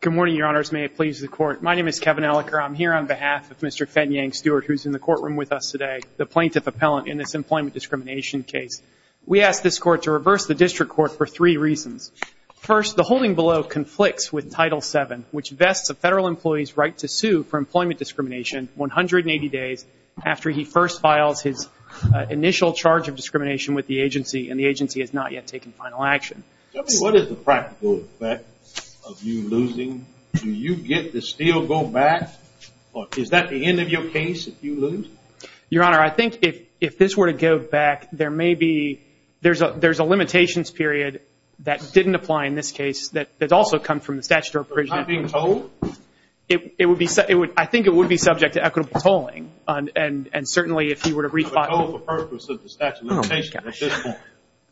Good morning, your honors. May it please the court. My name is Kevin Ellicott. I'm here on behalf of Mr. Fenyang Stewart, who's in the courtroom with us today, the plaintiff appellant in this employment discrimination case. We asked this court to reverse the district court for three reasons. First, the holding below conflicts with Title VII, which vests a federal employee's right to sue for employment discrimination 180 days after he first files his initial charge of discrimination with the agency and the agency has not yet taken final action. Tell me, what is the practical effect of you losing? Do you get to still go back? Or is that the end of your case if you lose? Your honor, I think if this were to go back, there may be, there's a limitations period that didn't apply in this case that also comes from the statute of appraisal. So it's not being told? It would be, I think it would be subject to equitable tolling and certainly if you were to re-file it. For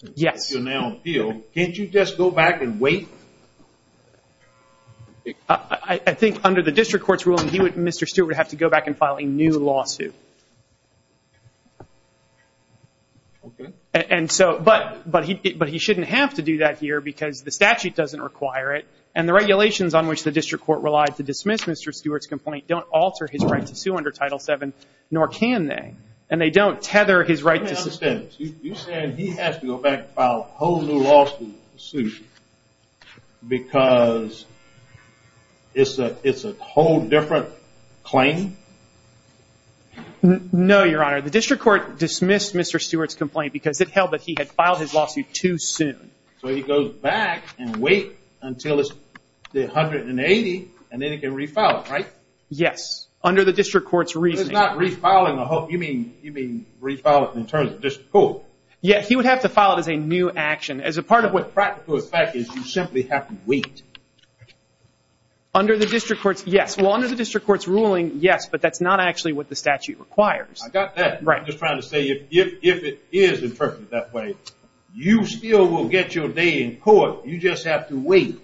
the appeal, can't you just go back and wait? I think under the district court's ruling, Mr. Stewart would have to go back and file a new lawsuit. Okay. And so, but he shouldn't have to do that here because the statute doesn't require it and the regulations on which the district court relied to dismiss Mr. Stewart's complaint don't alter his right to sue under Title VII, nor can they. And they don't tether his right to sue. You said he has to go back and file a whole new lawsuit because it's a whole different claim? No, your honor. The district court dismissed Mr. Stewart's complaint because it held that he had filed his lawsuit too soon. So he goes back and wait until it's 180 and then he can re-file it, right? Yes. Under the district court's reasoning. He's not re-filing the whole, you mean re-filing something in terms of district court? Yeah, he would have to file it as a new action. As a part of what practical effect is, you simply have to wait. Under the district court's yes. Well, under the district court's ruling, yes, but that's not actually what the statute requires. I got that. I'm just trying to say if it is interpreted that way, you still will get your day in court. You just have to wait.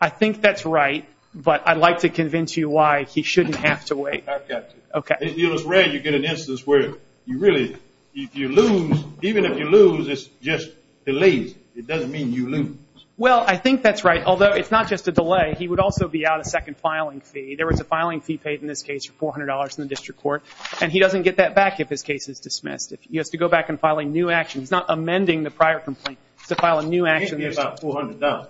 I think that's right, but I'd like to convince you why he shouldn't have to wait. I've got to. It's rare you get an instance where you really, if you lose, even if you lose, it's just delays. It doesn't mean you lose. Well, I think that's right, although it's not just a delay. He would also be out a second filing fee. There was a filing fee paid in this case for $400 in the district court, and he doesn't get that back if his case is dismissed. He has to go back and file a new action. He's not amending the prior complaint. He has to file a new action. It can't be about $400.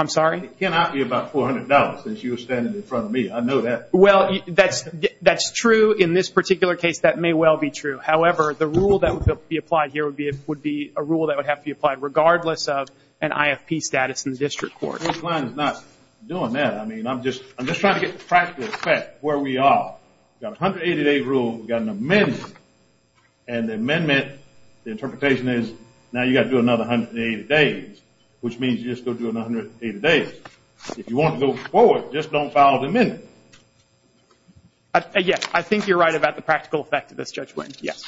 I'm sorry? It cannot be about $400 since you're standing in front of me. I know that. Well, that's true in this particular case. That may well be true. However, the rule that would be applied here would be a rule that would have to be applied regardless of an IFP status in the district court. This line is not doing that. I mean, I'm just trying to get the practical effect where we are. We've got a 180-day rule. We've got an amendment, and the amendment, the interpretation is, now you've got to do another 180 days, which means you just go do another 180 days. If you want to go forward, just don't file the amendment. Yes, I think you're right about the practical effect of this, Judge Wendt. Yes.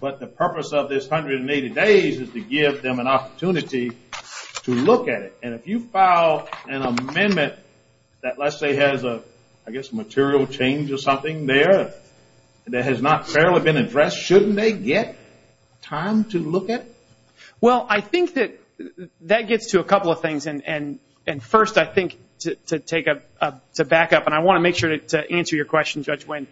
But the purpose of this 180 days is to give them an opportunity to look at it. And if you file an amendment that let's say has a, I guess, material change or something there that has not fairly been addressed, shouldn't they get time to look at it? Well, I think that that gets to a couple of things. And first, I think to take a, to back up, and I want to make sure to answer your question, Judge Wendt.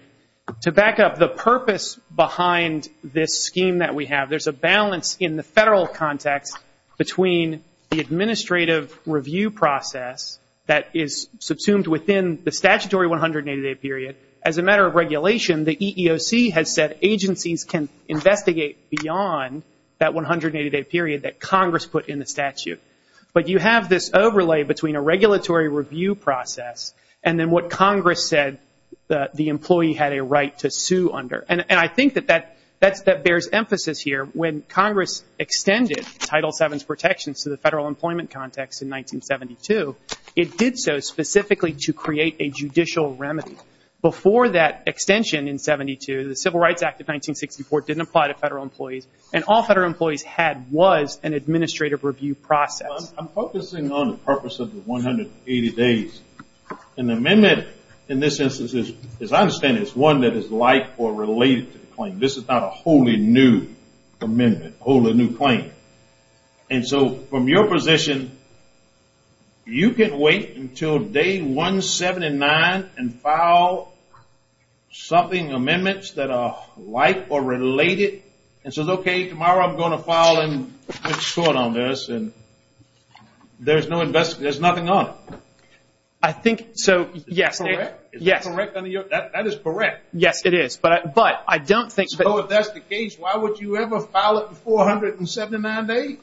To back up the purpose behind this scheme that we have, there's a balance in the federal context between the administrative review process that is subsumed within the statutory 180-day period. As a matter of regulation, the EEOC has said agencies can investigate beyond that 180-day period that Congress put in the statute. But you have this overlay between a regulatory review process and then what Congress said the employee had a right to sue under. And I think that that bears emphasis here. When Congress extended Title VII's protections to the federal employment context in 1972, it did so specifically to create a judicial remedy. Before that extension in 72, the Civil Rights Act of 1964 didn't apply to federal employees. And all federal employees had was an administrative review process. I'm focusing on the purpose of the 180 days. An amendment in this instance, as I understand it, is one that is life or related to the claim. This is not a wholly new amendment, wholly new claim. And so from your position, you can wait until day 179 and file something, amendments that are life or related. And so, okay, tomorrow I'm going to file and sort on this. And there's no investigation, there's nothing on it. I think, so, yes. Is that correct? Yes. Is that correct under your, that is correct. Yes, it is. But I don't think that... 179 days?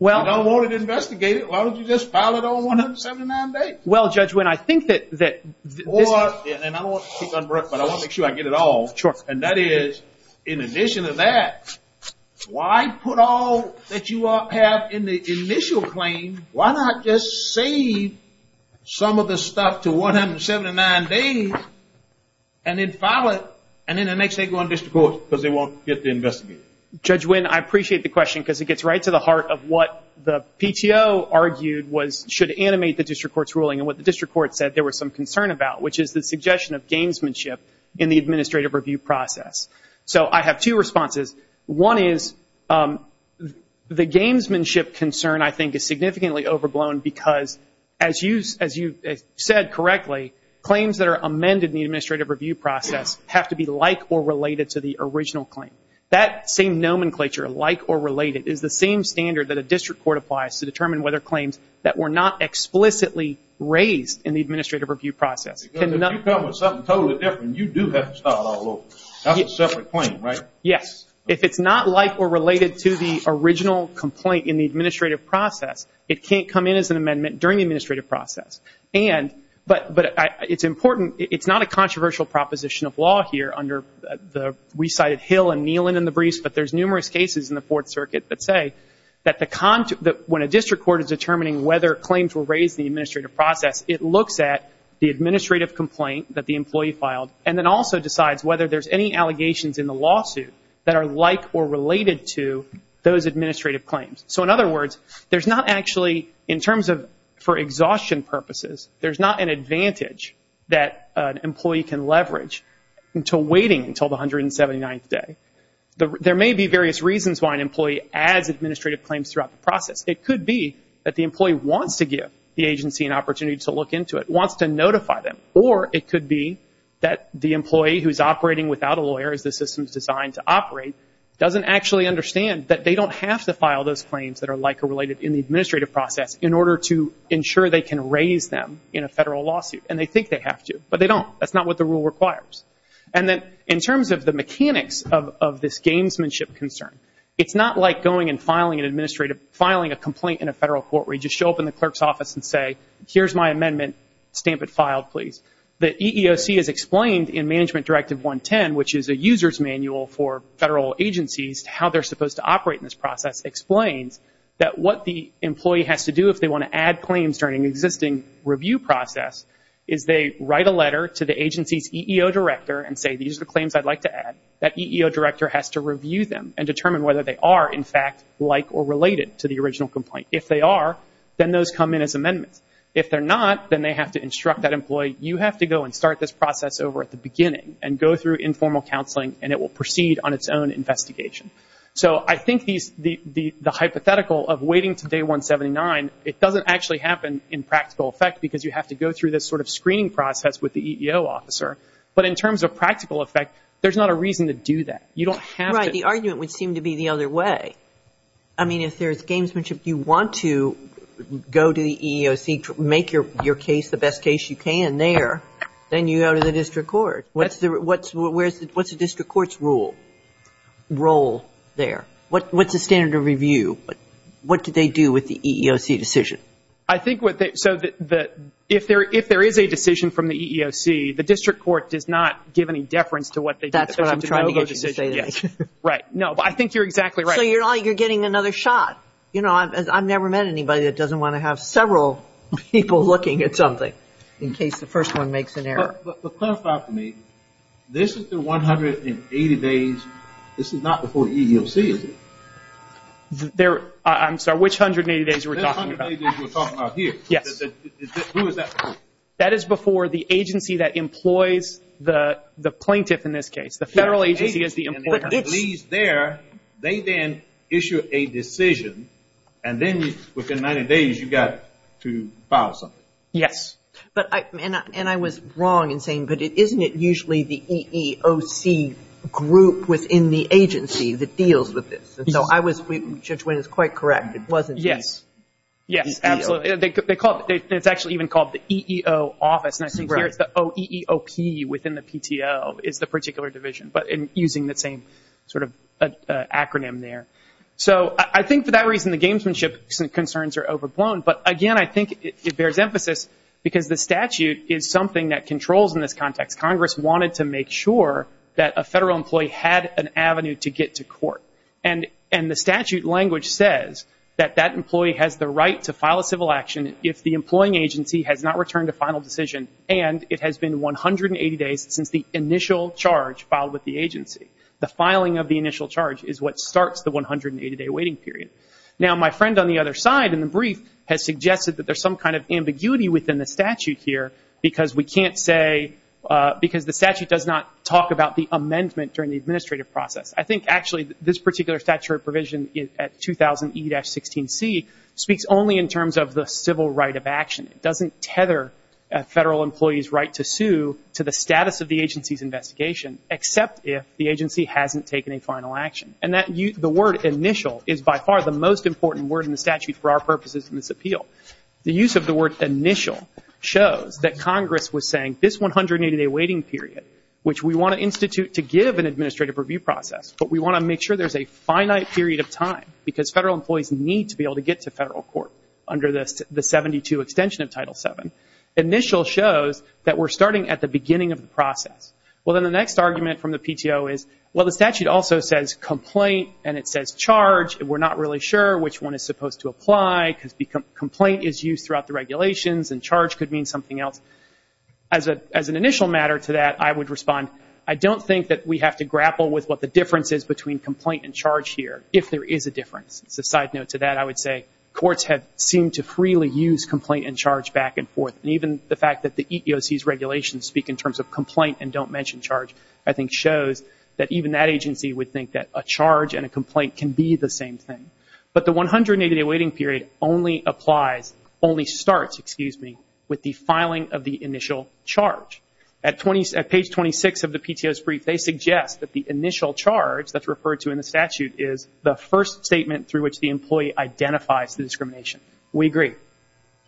You don't want it investigated, why don't you just file it on 179 days? Well, Judge Wynn, I think that... And I don't want to keep on, but I want to make sure I get it all. And that is, in addition to that, why put all that you have in the initial claim, why not just save some of the stuff to 179 days and then file it and then the next day go on district court because they won't get to investigate it? Judge Wynn, I appreciate the question because it gets right to the heart of what the PTO argued was should animate the district court's ruling and what the district court said there was some concern about, which is the suggestion of gamesmanship in the administrative review process. So I have two responses. One is the gamesmanship concern, I think, is significantly overblown because, as you said correctly, claims that are amended in the administrative review process have to be like or related to the original claim. That same nomenclature, like or related, is the same standard that a district court applies to determine whether claims that were not explicitly raised in the administrative review process. Because if you come up with something totally different, you do have to start all over. That's a separate claim, right? Yes. If it's not like or related to the original complaint in the administrative process, it can't come in as an amendment during the administrative process. But it's important, it's not a controversial proposition of law here under the, we cited Hill and Neelan in the briefs, but there's numerous cases in the Fourth Circuit that say that when a district court is determining whether claims were raised in the administrative process, it looks at the administrative complaint that the employee filed and then also decides whether there's any allegations in the lawsuit that are like or related to those administrative claims. So in other words, there's not actually, in terms of for exhaustion purposes, there's not an advantage that an employee can leverage until waiting until the 179th day. There may be various reasons why an employee adds administrative claims throughout the process. It could be that the employee wants to give the agency an opportunity to look into it, wants to notify them, or it could be that the employee who's operating without a lawyer, as the system is designed to operate, doesn't actually understand that they don't have to file those claims that are like or related in the administrative process in order to ensure they can raise them in a federal lawsuit. And they think they have to, but they don't. That's not what the rule requires. And then in terms of the mechanics of this gamesmanship concern, it's not like going and filing an administrative, filing a complaint in a federal court where you just show up in the clerk's office and say, here's my amendment. Stamp it filed, please. The EEOC has explained in Management Directive 110, which is a user's manual for federal agencies, how they're supposed to operate in this process, explains that what the employee has to do if they want to review process is they write a letter to the agency's EEO director and say, these are the claims I'd like to add. That EEO director has to review them and determine whether they are, in fact, like or related to the original complaint. If they are, then those come in as amendments. If they're not, then they have to instruct that employee, you have to go and start this process over at the beginning and go through informal counseling and it will proceed on its own investigation. So I think the hypothetical of waiting to day 179, it doesn't actually happen in practical effect because you have to go through this sort of screening process with the EEO officer. But in terms of practical effect, there's not a reason to do that. You don't have to Right. The argument would seem to be the other way. I mean, if there's gamesmanship, you want to go to the EEOC, make your case the best case you can there, then you go to the district court. What's the district court's role there? What's the standard of review? What do they do with the EEOC decision? I think what they, so that if there is a decision from the EEOC, the district court does not give any deference to what they do. That's what I'm trying to get you to say. Right. No, but I think you're exactly right. So you're getting another shot. You know, I've never met anybody that doesn't want to have several people looking at something in case the first one makes an error. But clarify for me, this is the 180 days, this is not before the EEOC, is it? There, I'm sorry, which 180 days are we talking about? The 180 days we're talking about here. Yes. Who is that before? That is before the agency that employs the plaintiff in this case. The federal agency is the employer. And it leaves there, they then issue a decision, and then within 90 days you've got to file something. Yes. But, and I was wrong in saying, but isn't it usually the EEOC group within the agency that deals with this? Yes. And so I was, Judge Winn is quite correct, it wasn't the EEOC. Yes, absolutely. It's actually even called the EEO office, and I think here it's the OEOP within the PTO is the particular division, but using the same sort of acronym there. So I think for that reason the gamesmanship concerns are overblown, but again, I think it bears emphasis because the statute is something that controls in this context. Congress wanted to make sure that a federal employee had an avenue to get to court, and the statute language says that that employee has the right to file a civil action if the employing agency has not returned a final decision and it has been 180 days since the initial charge filed with the agency. The filing of the initial charge is what starts the 180-day waiting period. Now, my friend on the other side in the brief has suggested that there's some kind of because the statute does not talk about the amendment during the administrative process. I think actually this particular statutory provision at 2000E-16C speaks only in terms of the civil right of action. It doesn't tether a federal employee's right to sue to the status of the agency's investigation, except if the agency hasn't taken a final action. And the word initial is by far the most important word in the statute for our purposes in this appeal. The use of the word initial shows that Congress was saying this 180-day waiting period, which we want to institute to give an administrative review process, but we want to make sure there's a finite period of time because federal employees need to be able to get to federal court under the 72 extension of Title VII. Initial shows that we're starting at the beginning of the process. Well, then the next argument from the PTO is, well, the statute also says complaint, and it says charge. We're not really sure which one is supposed to apply because complaint is used throughout the regulations and charge could mean something else. As an initial matter to that, I would respond, I don't think that we have to grapple with what the difference is between complaint and charge here if there is a difference. As a side note to that, I would say courts have seemed to freely use complaint and charge back and forth. And even the fact that the EEOC's regulations speak in terms of complaint and charge and a complaint can be the same thing. But the 180-day waiting period only applies, only starts, excuse me, with the filing of the initial charge. At page 26 of the PTO's brief, they suggest that the initial charge that's referred to in the statute is the first statement through which the employee identifies the discrimination. We agree.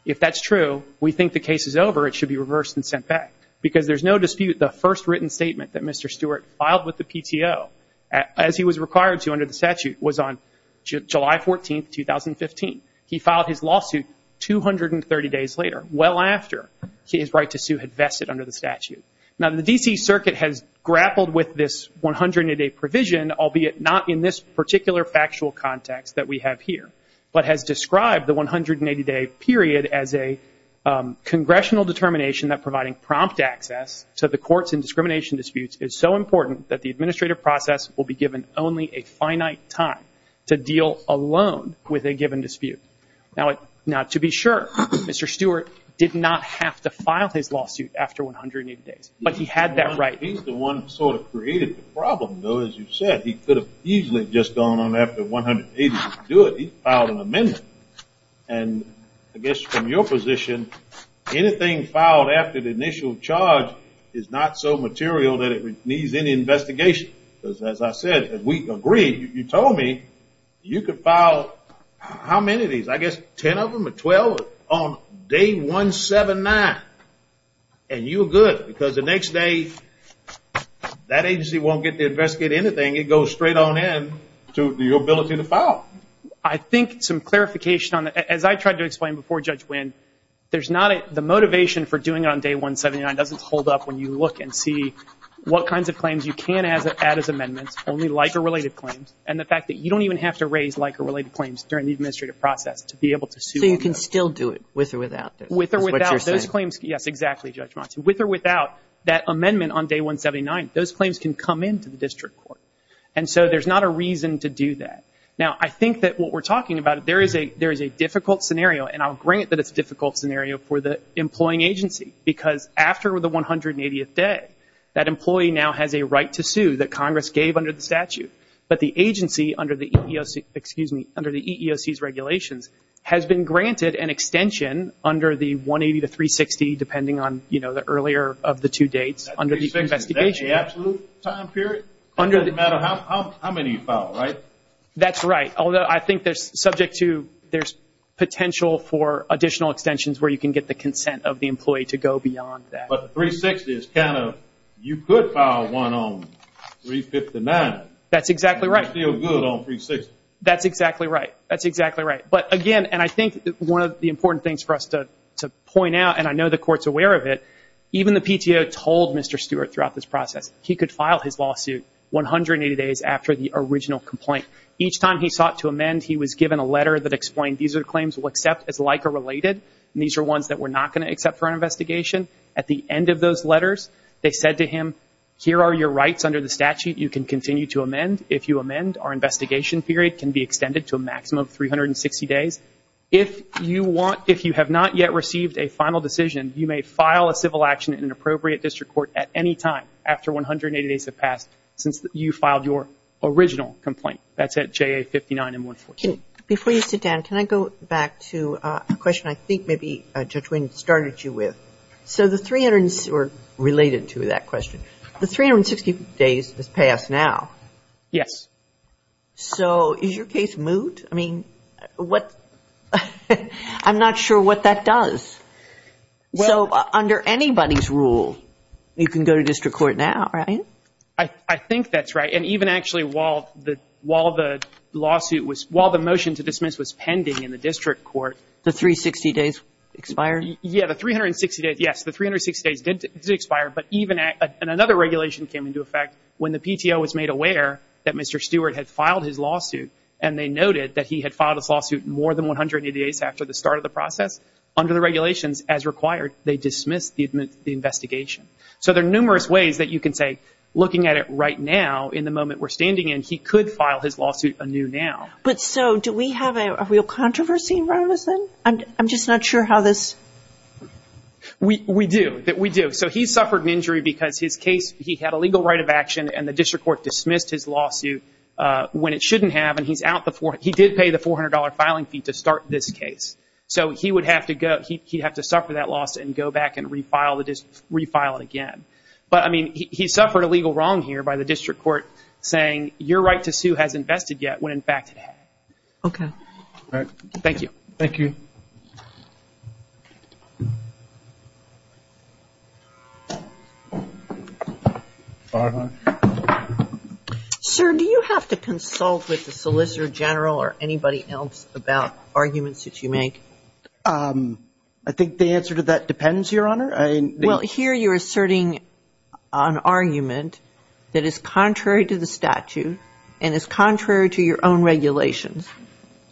If that's true, we think the case is over. It should be reversed and sent back because there's no dispute the first written statement that Mr. Stewart filed with the PTO, as he was required to under the statute, was on July 14, 2015. He filed his lawsuit 230 days later, well after his right to sue had vested under the statute. Now the D.C. Circuit has grappled with this 180-day provision, albeit not in this particular factual context that we have here, but has described the 180-day period as a congressional determination that providing prompt access to the courts in discrimination disputes is so important that the administrative process will be given only a finite time to deal alone with a given dispute. Now to be sure, Mr. Stewart did not have to file his lawsuit after 180 days, but he had that right. He's the one who sort of created the problem, though, as you said. He could have easily just gone on after 180 days to do it. He filed an amendment. And I guess from your position, anything filed after the initial charge is not so material that it needs any investigation. As I said, we agree. You told me you could file how many of these? I guess 10 of them or 12 on day 179. And you were good because the next day that agency won't get to investigate anything. It goes straight on in to your ability to file. Well, I think some clarification on that. As I tried to explain before Judge Winn, the motivation for doing it on day 179 doesn't hold up when you look and see what kinds of claims you can add as amendments, only LICA-related claims, and the fact that you don't even have to raise LICA-related claims during the administrative process to be able to sue. So you can still do it with or without this? With or without those claims, yes, exactly, Judge Monti. With or without that amendment on day 179, those claims can come in to the district court. And so there's not a reason to do that. Now, I think that what we're talking about, there is a difficult scenario, and I'll grant that it's a difficult scenario for the employing agency because after the 180th day, that employee now has a right to sue that Congress gave under the statute. But the agency under the EEOC's regulations has been granted an extension under the 180 to 360, depending on the earlier of the two dates under the investigation. That's the absolute time period? It doesn't matter how many you file, right? That's right, although I think there's potential for additional extensions where you can get the consent of the employee to go beyond that. But 360 is kind of, you could file one on 359. That's exactly right. And you're still good on 360. That's exactly right. That's exactly right. But again, and I think one of the important things for us to point out, and I know the Court's aware of it, even the PTO told Mr. Stewart throughout this process, he could file his lawsuit 180 days after the original complaint. Each time he sought to amend, he was given a letter that explained, these are the claims we'll accept as LICA-related, and these are ones that we're not going to accept for an investigation. At the end of those letters, they said to him, here are your rights under the statute you can continue to amend. If you amend, our investigation period can be extended to a maximum of 360 days. If you have not yet received a final decision, you may file a civil action in an appropriate district court at any time after 180 days have passed since you filed your original complaint. That's at JA-59-M-114. Before you sit down, can I go back to a question I think maybe Judge Wing started you with? So the 360 days has passed now. Yes. So is your case moot? I mean, I'm not sure what that does. So under anybody's rule, you can go to district court now, right? I think that's right. And even actually while the motion to dismiss was pending in the district court. The 360 days expired? Yes, the 360 days did expire. And another regulation came into effect when the PTO was made aware that Mr. Stewart had filed his lawsuit and they noted that he had filed his lawsuit more than 180 days after the start of the process. Under the regulations, as required, they dismissed the investigation. So there are numerous ways that you can say, looking at it right now, in the moment we're standing in, he could file his lawsuit anew now. But so do we have a real controversy around this then? I'm just not sure how this – We do. We do. So he suffered an injury because his case, he had a legal right of action and the district court dismissed his lawsuit when it shouldn't have, and he did pay the $400 filing fee to start this case. So he would have to suffer that loss and go back and refile it again. But, I mean, he suffered a legal wrong here by the district court saying, your right to sue hasn't vested yet when, in fact, it has. Okay. Thank you. Thank you. Thank you. Barbara. Sir, do you have to consult with the solicitor general or anybody else about arguments that you make? I think the answer to that depends, Your Honor. Well, here you're asserting an argument that is contrary to the statute and is contrary to your own regulations.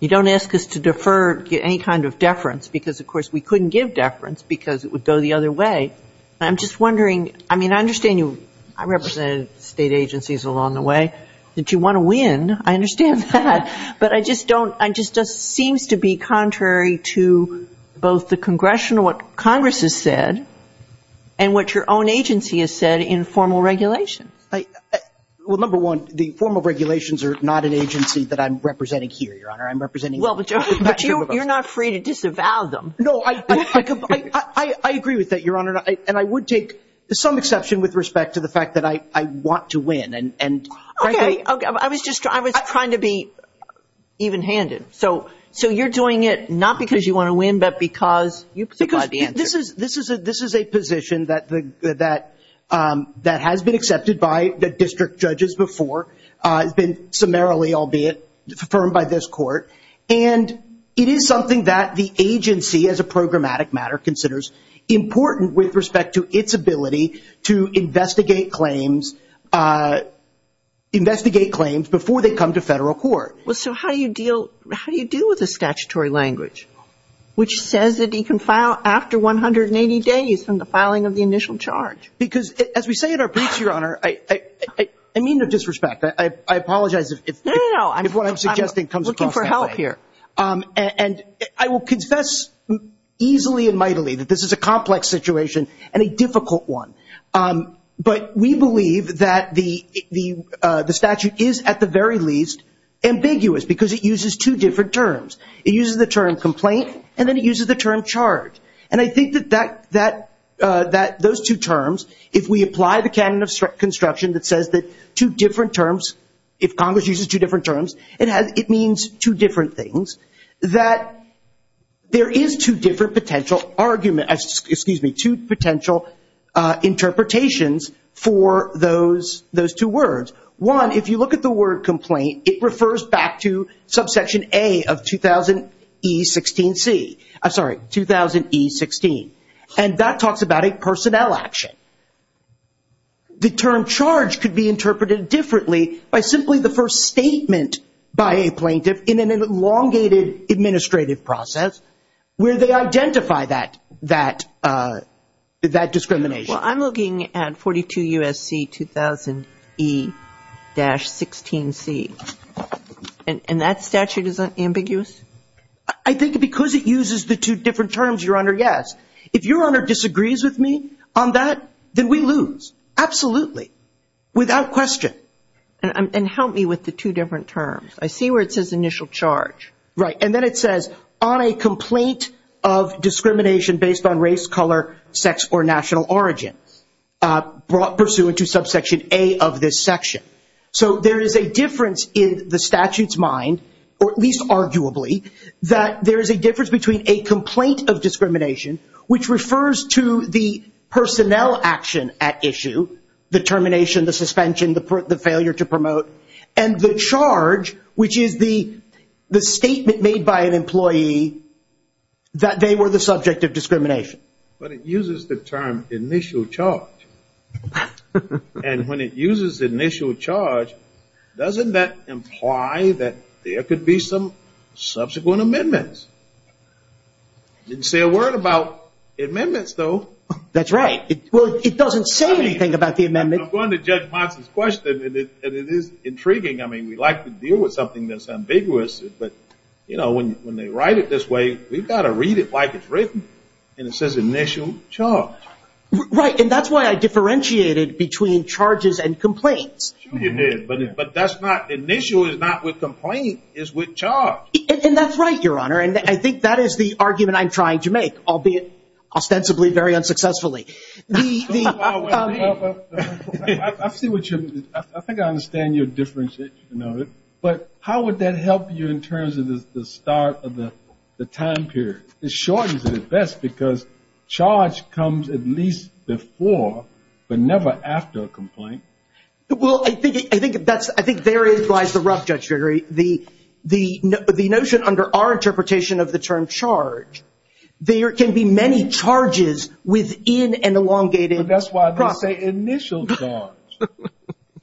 You don't ask us to defer any kind of deference because, of course, we couldn't give deference because it would go the other way. And I'm just wondering, I mean, I understand you. I represented state agencies along the way. Did you want to win? I understand that. But I just don't – it just seems to be contrary to both the Congressional, what Congress has said, and what your own agency has said in formal regulations. Well, number one, the formal regulations are not an agency that I'm representing here, Your Honor. I'm representing that group of us. Well, but you're not free to disavow them. No, I agree with that, Your Honor, and I would take some exception with respect to the fact that I want to win. Okay. I was just trying to be even-handed. So you're doing it not because you want to win but because you provide the answer. This is a position that has been accepted by the district judges before. It's been summarily, albeit, affirmed by this court. And it is something that the agency, as a programmatic matter, considers important with respect to its ability to investigate claims before they come to federal court. Well, so how do you deal with the statutory language, which says that he can file after 180 days from the filing of the initial charge? Because, as we say in our briefs, Your Honor, I mean no disrespect. I apologize if what I'm suggesting comes across that way. No, no, no. I'm looking for help here. And I will confess easily and mightily that this is a complex situation and a difficult one. But we believe that the statute is, at the very least, ambiguous because it uses two different terms. It uses the term complaint and then it uses the term charge. And I think that those two terms, if we apply the canon of construction that says that two different terms, if Congress uses two different terms, it means two different things, that there is two different potential interpretations for those two words. One, if you look at the word complaint, it refers back to subsection A of 2000E16C. I'm sorry, 2000E16. And that talks about a personnel action. The term charge could be interpreted differently by simply the first statement by a plaintiff in an elongated administrative process where they identify that discrimination. Well, I'm looking at 42 U.S.C. 2000E-16C. And that statute is ambiguous? I think because it uses the two different terms, Your Honor, yes. If Your Honor disagrees with me on that, then we lose, absolutely, without question. And help me with the two different terms. I see where it says initial charge. Right. And then it says on a complaint of discrimination based on race, color, sex, or national origin, brought pursuant to subsection A of this section. So there is a difference in the statute's mind, or at least arguably, that there is a difference between a complaint of discrimination, which refers to the personnel action at issue, the termination, the suspension, the failure to promote, and the charge, which is the statement made by an employee that they were the subject of discrimination. But it uses the term initial charge. And when it uses initial charge, doesn't that imply that there could be some subsequent amendments? It didn't say a word about amendments, though. That's right. Well, it doesn't say anything about the amendments. I'm going to judge Monson's question, and it is intriguing. I mean, we like to deal with something that's ambiguous, but, you know, when they write it this way, we've got to read it like it's written. And it says initial charge. Right. And that's why I differentiated between charges and complaints. Sure you did. But that's not – initial is not with complaint. It's with charge. And that's right, Your Honor. And I think that is the argument I'm trying to make, albeit ostensibly very unsuccessfully. I see what you're – I think I understand your differentiation of it. But how would that help you in terms of the start of the time period? It shortens it at best because charge comes at least before but never after a complaint. Well, I think that's – I think therein lies the rub, Judge Gregory. The notion under our interpretation of the term charge, there can be many charges within an elongated process. But that's why they say initial charge.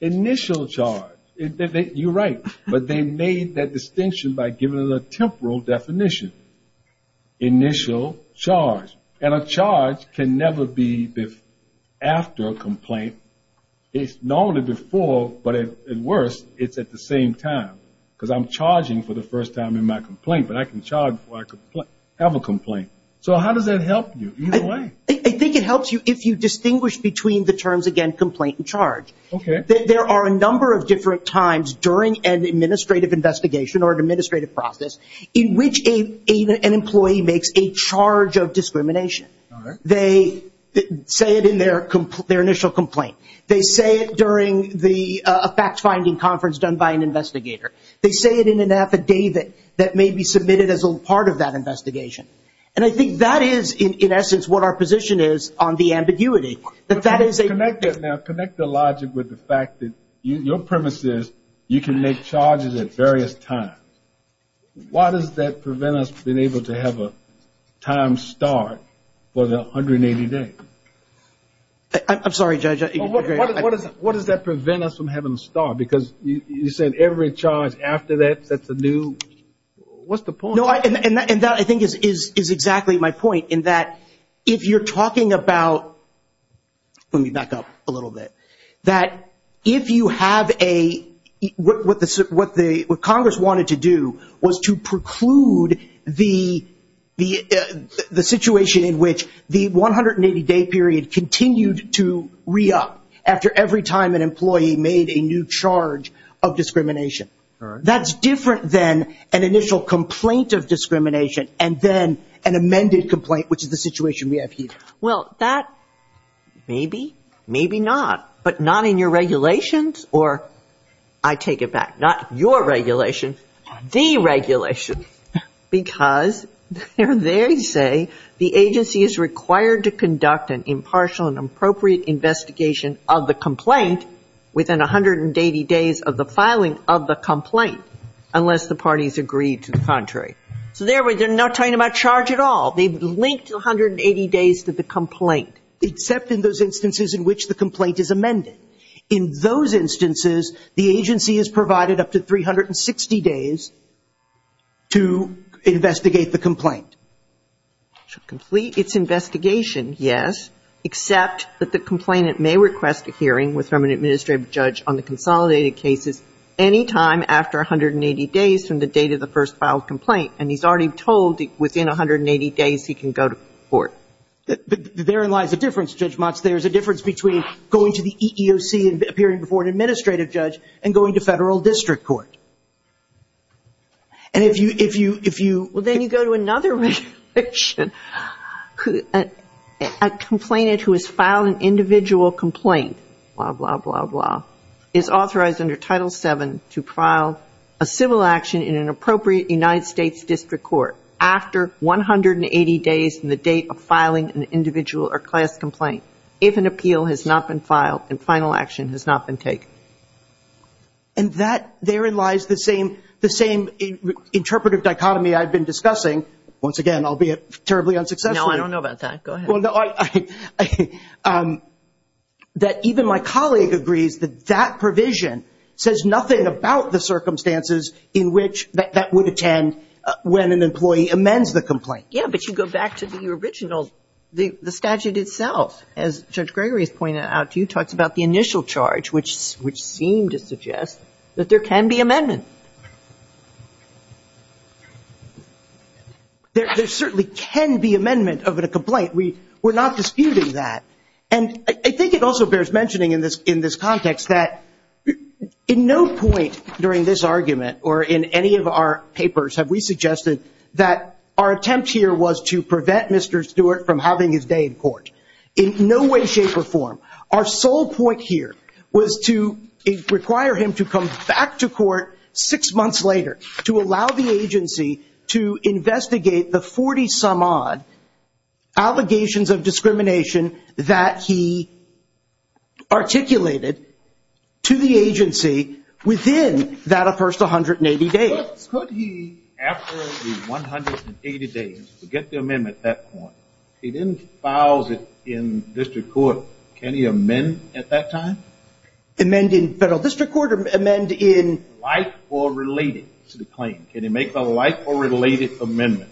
Initial charge. You're right. But they made that distinction by giving it a temporal definition. Initial charge. And a charge can never be after a complaint. It's normally before, but at worst, it's at the same time. Because I'm charging for the first time in my complaint, but I can charge before I have a complaint. So how does that help you? Either way. I think it helps you if you distinguish between the terms, again, complaint and charge. Okay. There are a number of different times during an administrative investigation or an administrative process in which an employee makes a charge of discrimination. They say it in their initial complaint. They say it during a fact-finding conference done by an investigator. They say it in an affidavit that may be submitted as a part of that investigation. And I think that is, in essence, what our position is on the ambiguity. Connect the logic with the fact that your premise is you can make charges at various times. Why does that prevent us from being able to have a time start for the 180 days? I'm sorry, Judge. What does that prevent us from having a start? Because you said every charge after that sets a new. What's the point? No, and that, I think, is exactly my point in that if you're talking about, let me back up a little bit, that if you have a, what Congress wanted to do was to preclude the situation in which the 180-day period continued to re-up after every time an employee made a new charge of discrimination. That's different than an initial complaint of discrimination and then an amended complaint, which is the situation we have here. Well, that maybe, maybe not. But not in your regulations, or I take it back, not your regulation, the regulation. Because they say the agency is required to conduct an impartial and appropriate investigation of the complaint within 180 days of the filing of the complaint, unless the parties agree to the contrary. So they're not talking about charge at all. They've linked the 180 days to the complaint. Except in those instances in which the complaint is amended. In those instances, the agency is provided up to 360 days to investigate the complaint. Should complete its investigation, yes, except that the complainant may request a hearing with an administrative judge on the consolidated cases any time after 180 days from the date of the first filed complaint. And he's already told within 180 days he can go to court. Therein lies the difference, Judge Motz. There's a difference between going to the EEOC and appearing before an administrative judge and going to federal district court. And if you, if you, if you. Well, then you go to another regulation. A complainant who has filed an individual complaint, blah, blah, blah, blah, is authorized under Title VII to file a civil action in an appropriate United States district court after 180 days from the date of filing an individual or class complaint, if an appeal has not been filed and final action has not been taken. And that, therein lies the same, the same interpretive dichotomy I've been discussing. Once again, albeit terribly unsuccessfully. No, I don't know about that. Go ahead. Well, no, I, I, that even my colleague agrees that that provision says nothing about the circumstances in which that, that would attend when an employee amends the complaint. Yeah, but you go back to the original, the, the statute itself. As Judge Gregory has pointed out to you, talks about the initial charge, which, which seemed to suggest that there can be amendment. There, there certainly can be amendment of a complaint. We, we're not disputing that. And I think it also bears mentioning in this, in this context that in no point during this argument or in any of our papers have we suggested that our attempt here was to prevent Mr. Stewart from having his day in court. In no way, shape, or form. Our sole point here was to require him to come back to court six months later to allow the agency to investigate the 40-some-odd allegations of discrimination that he articulated to the agency within that first 180 days. Could he, after the 180 days, get the amendment at that point? He didn't file it in district court. Can he amend at that time? Amend in federal district court or amend in? Like or related to the claim. Can he make a like or related amendment?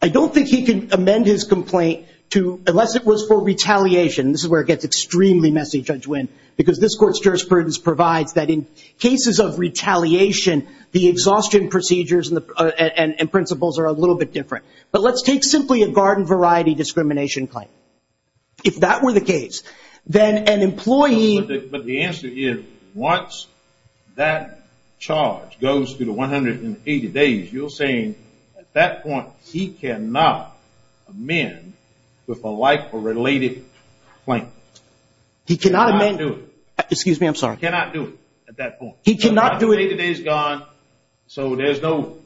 I don't think he can amend his complaint to, unless it was for retaliation. This is where it gets extremely messy, Judge Winn, because this court's jurisprudence provides that in cases of retaliation, the exhaustion procedures and principles are a little bit different. But let's take simply a garden variety discrimination claim. If that were the case, then an employee. But the answer is, once that charge goes through the 180 days, you're saying at that point he cannot amend with a like or related claim. He cannot amend. He cannot do it. Excuse me, I'm sorry. He cannot do it at that point. He cannot do it. The 180 days is gone, so there's no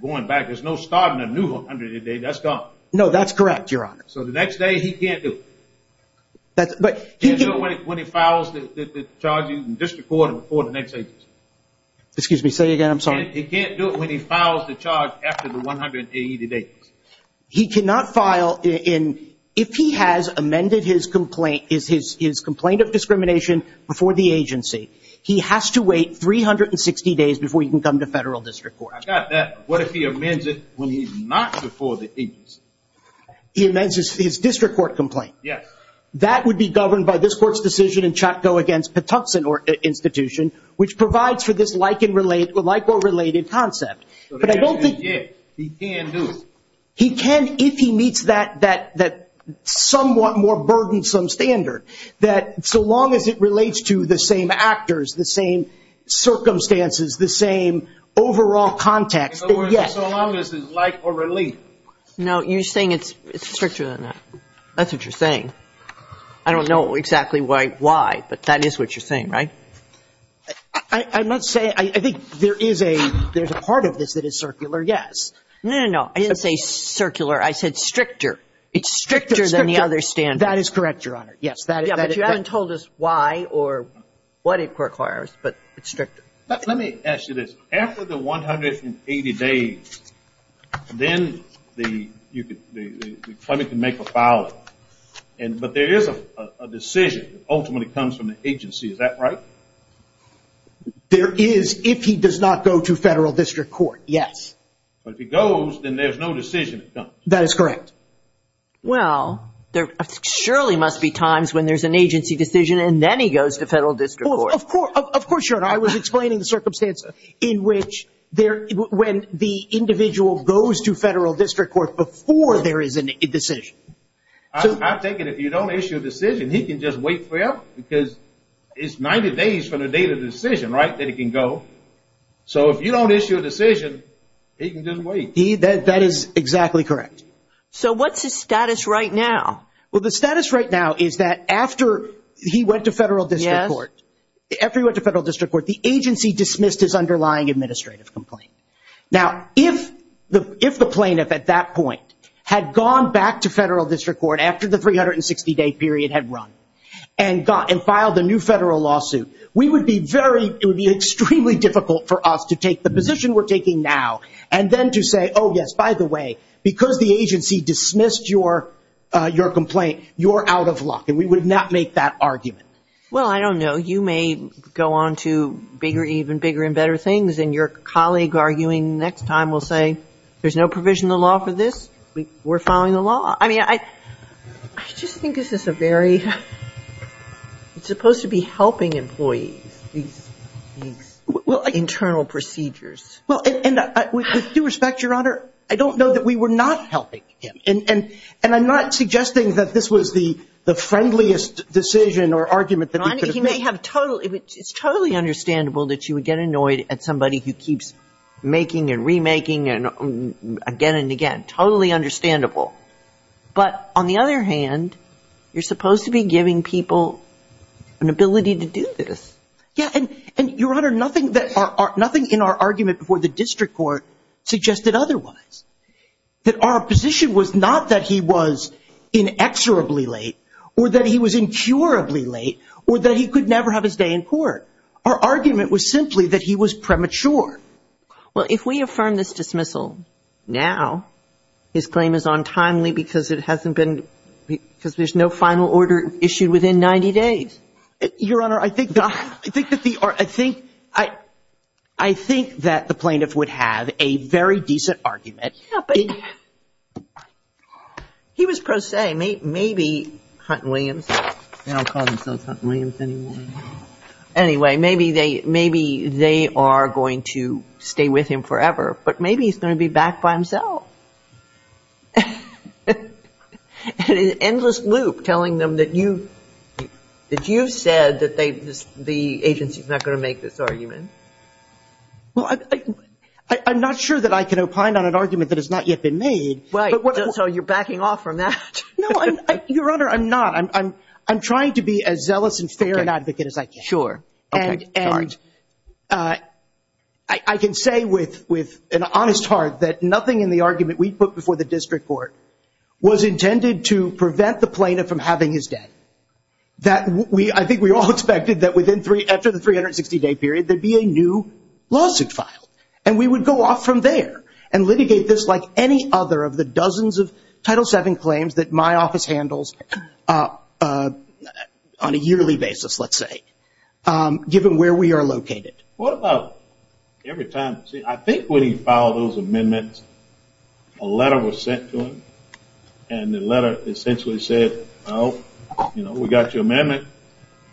going back. There's no starting a new 180 days. That's gone. No, that's correct, Your Honor. So the next day he can't do it. But he can't do it when he files the charges in district court or the next agency. Excuse me. Say it again. I'm sorry. He can't do it when he files the charge after the 180 days. He cannot file if he has amended his complaint of discrimination before the agency. He has to wait 360 days before he can come to federal district court. I got that. What if he amends it when he's not before the agency? He amends his district court complaint. Yes. That would be governed by this Court's decision in CHATCO against Patuxent Institution, which provides for this like or related concept. But I don't think he can do it. He can if he meets that somewhat more burdensome standard, that so long as it relates to the same actors, the same circumstances, the same overall context. So long as it's like or related. No, you're saying it's stricter than that. That's what you're saying. I don't know exactly why, but that is what you're saying, right? I'm not saying – I think there is a part of this that is circular, yes. No, no, no. I didn't say circular. I said stricter. It's stricter than the other standard. That is correct, Your Honor. Yes. But you haven't told us why or what it requires, but it's stricter. Let me ask you this. After the 180 days, then the claimant can make a filing. But there is a decision that ultimately comes from the agency. Is that right? There is if he does not go to federal district court, yes. But if he goes, then there's no decision that comes. That is correct. Well, there surely must be times when there's an agency decision and then he goes to federal district court. Of course, Your Honor. I was explaining the circumstance in which there – when the individual goes to federal district court before there is a decision. I take it if you don't issue a decision, he can just wait for you because it's 90 days from the date of the decision, right, that he can go. So if you don't issue a decision, he can just wait. That is exactly correct. So what's his status right now? Well, the status right now is that after he went to federal district court, the agency dismissed his underlying administrative complaint. Now, if the plaintiff at that point had gone back to federal district court after the 360-day period had run and filed a new federal lawsuit, it would be extremely difficult for us to take the position we're taking now and then to say, oh, yes, by the way, because the agency dismissed your complaint, you're out of luck. And we would not make that argument. Well, I don't know. You may go on to bigger, even bigger and better things, and your colleague arguing next time will say there's no provision in the law for this. We're following the law. I mean, I just think this is a very – it's supposed to be helping employees, these internal procedures. Well, and with due respect, Your Honor, I don't know that we were not helping him. And I'm not suggesting that this was the friendliest decision or argument that we could have made. It's totally understandable that you would get annoyed at somebody who keeps making and remaking again and again. Totally understandable. But on the other hand, you're supposed to be giving people an ability to do this. Yeah, and, Your Honor, nothing in our argument before the district court suggested otherwise, that our position was not that he was inexorably late or that he was incurably late or that he could never have his day in court. Our argument was simply that he was premature. Well, if we affirm this dismissal now, his claim is untimely because it hasn't been – because there's no final order issued within 90 days. Your Honor, I think that the – I think that the plaintiff would have a very decent argument. He was pro se. Maybe Hunt and Williams – they don't call themselves Hunt and Williams anymore. Anyway, maybe they are going to stay with him forever, but maybe he's going to be back by himself. An endless loop telling them that you said that the agency is not going to make this argument. Well, I'm not sure that I can opine on an argument that has not yet been made. Right, so you're backing off from that. No, Your Honor, I'm not. I'm trying to be as zealous and fair an advocate as I can. Sure. And I can say with an honest heart that nothing in the argument we put before the district court was intended to prevent the plaintiff from having his day. I think we all expected that after the 360-day period there would be a new lawsuit filed, and we would go off from there and litigate this like any other of the dozens of Title VII claims that my office handles on a yearly basis, let's say, given where we are located. What about every time? See, I think when he filed those amendments, a letter was sent to him, and the letter essentially said, oh, you know, we got your amendment,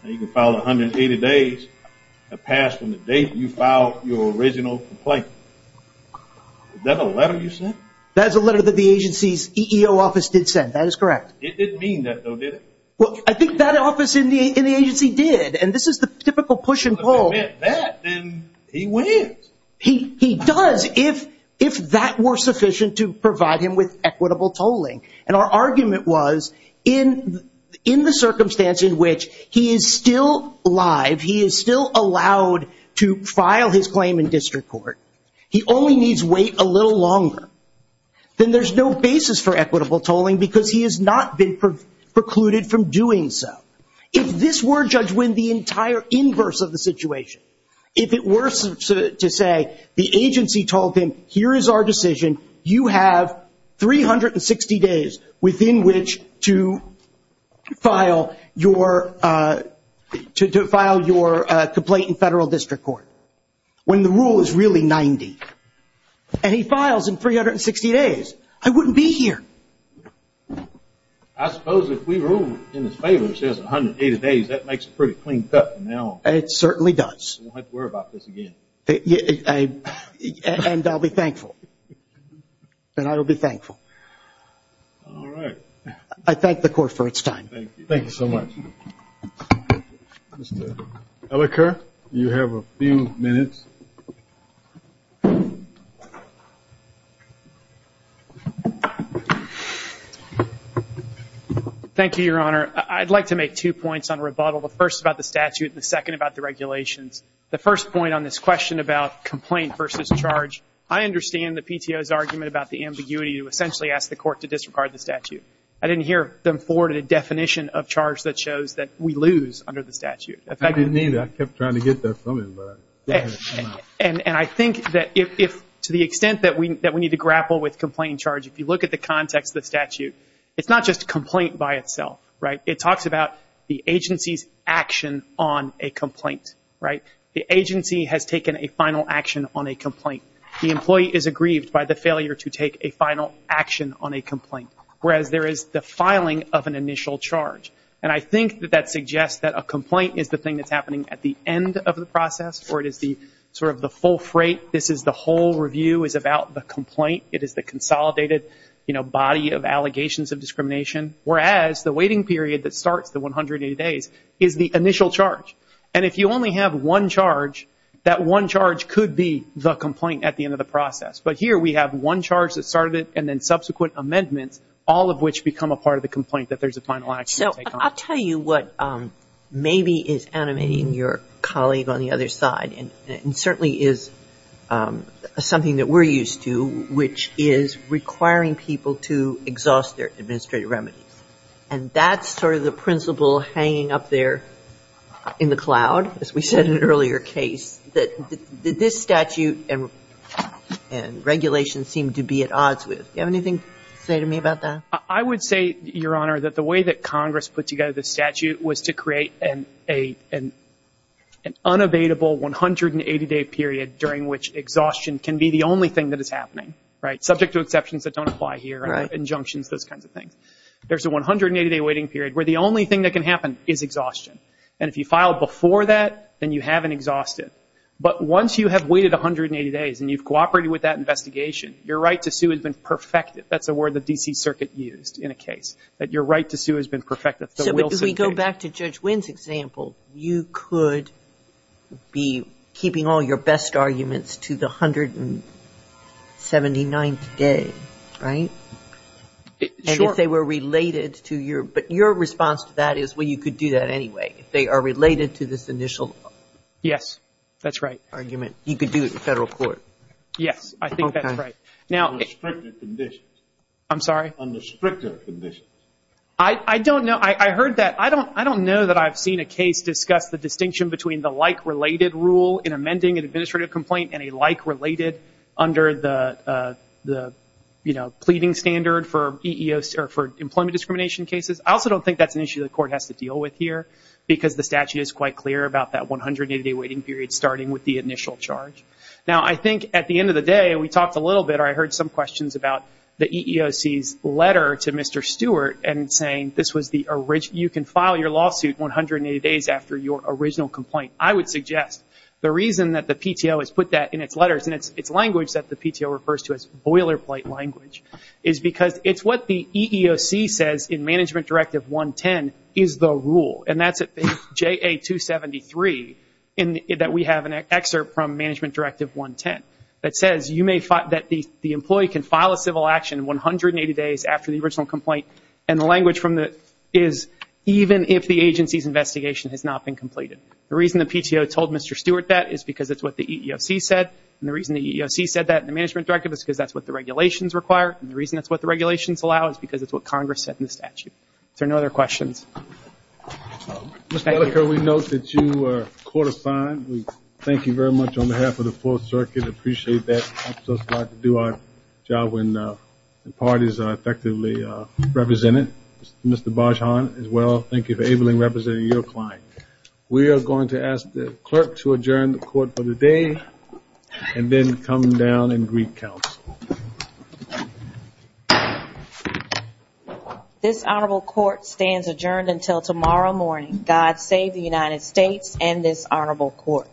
and you can file 180 days to pass from the date you filed your original complaint. Is that a letter you sent? That is a letter that the agency's EEO office did send. That is correct. It didn't mean that, though, did it? Well, I think that office in the agency did, and this is the typical push and pull. But if it meant that, then he wins. He does if that were sufficient to provide him with equitable tolling. And our argument was in the circumstance in which he is still alive, he is still allowed to file his claim in district court, he only needs to wait a little longer, then there's no basis for equitable tolling because he has not been precluded from doing so. If this were, Judge Winn, the entire inverse of the situation, if it were to say the agency told him here is our decision, you have 360 days within which to file your complaint in federal district court, when the rule is really 90, and he files in 360 days, I wouldn't be here. I suppose if we rule in his favor and it says 180 days, that makes a pretty clean cut from now on. It certainly does. We won't have to worry about this again. And I'll be thankful. And I will be thankful. All right. I thank the Court for its time. Thank you. Thank you so much. Mr. Ellicott, you have a few minutes. Thank you, Your Honor. I'd like to make two points on rebuttal. The first about the statute and the second about the regulations. The first point on this question about complaint versus charge, I understand the PTO's argument about the ambiguity to essentially ask the Court to disregard the statute. I didn't hear them forward a definition of charge that shows that we lose under the statute. I didn't mean that. I kept trying to get that from him. And I think that to the extent that we need to grapple with complaint and charge, if you look at the context of the statute, it's not just a complaint by itself, right? It talks about the agency's action on a complaint, right? The agency has taken a final action on a complaint. The employee is aggrieved by the failure to take a final action on a complaint, whereas there is the filing of an initial charge. And I think that that suggests that a complaint is the thing that's happening at the end of the process or it is the sort of the full freight. This is the whole review is about the complaint. It is the consolidated, you know, body of allegations of discrimination, whereas the waiting period that starts the 180 days is the initial charge. And if you only have one charge, that one charge could be the complaint at the end of the process. But here we have one charge that started it and then subsequent amendments, all of which become a part of the complaint that there's a final action to take on. So I'll tell you what maybe is animating your colleague on the other side and certainly is something that we're used to, which is requiring people to exhaust their administrative remedies. And that's sort of the principle hanging up there in the cloud, as we said in an earlier case, that this statute and regulation seem to be at odds with. Do you have anything to say to me about that? I would say, Your Honor, that the way that Congress put together the statute was to create an unavailable 180-day period during which exhaustion can be the only thing that is happening, right, subject to exceptions that don't apply here, injunctions, those kinds of things. There's a 180-day waiting period where the only thing that can happen is exhaustion. And if you file before that, then you haven't exhausted. But once you have waited 180 days and you've cooperated with that investigation, your right to sue has been perfected. That's a word the D.C. Circuit used in a case, that your right to sue has been perfected. So if we go back to Judge Wynn's example, you could be keeping all your best arguments to the 179th day, right? Sure. But your response to that is, well, you could do that anyway. They are related to this initial argument. Yes, that's right. You could do it in federal court. Yes, I think that's right. Okay. Under stricter conditions. I'm sorry? Under stricter conditions. I don't know. I heard that. I don't know that I've seen a case discuss the distinction between the like-related rule in amending an administrative complaint and a like-related under the pleading standard for employment discrimination cases. I also don't think that's an issue the court has to deal with here, because the statute is quite clear about that 180-day waiting period starting with the initial charge. Now, I think at the end of the day, we talked a little bit, or I heard some questions about the EEOC's letter to Mr. Stewart, and saying you can file your lawsuit 180 days after your original complaint. I would suggest the reason that the PTO has put that in its letters, and it's language that the PTO refers to as boilerplate language, is because it's what the EEOC says in Management Directive 110 is the rule, and that's at JA 273 that we have an excerpt from Management Directive 110 that says that the employee can file a civil action 180 days after the original complaint, and the language from that is even if the agency's investigation has not been completed. The reason the PTO told Mr. Stewart that is because it's what the EEOC said, and the reason the EEOC said that in the Management Directive is because that's what the regulations require, and the reason that's what the regulations allow is because it's what Congress said in the statute. Is there no other questions? Ms. Bellicker, we note that you are court-assigned. Thank you very much on behalf of the Fourth Circuit. I appreciate that. I just like to do our job when the parties are effectively represented. Mr. Bajon, as well, thank you for ably representing your client. We are going to ask the clerk to adjourn the court for the day and then come down and greet counsel. This honorable court stands adjourned until tomorrow morning. God save the United States and this honorable court.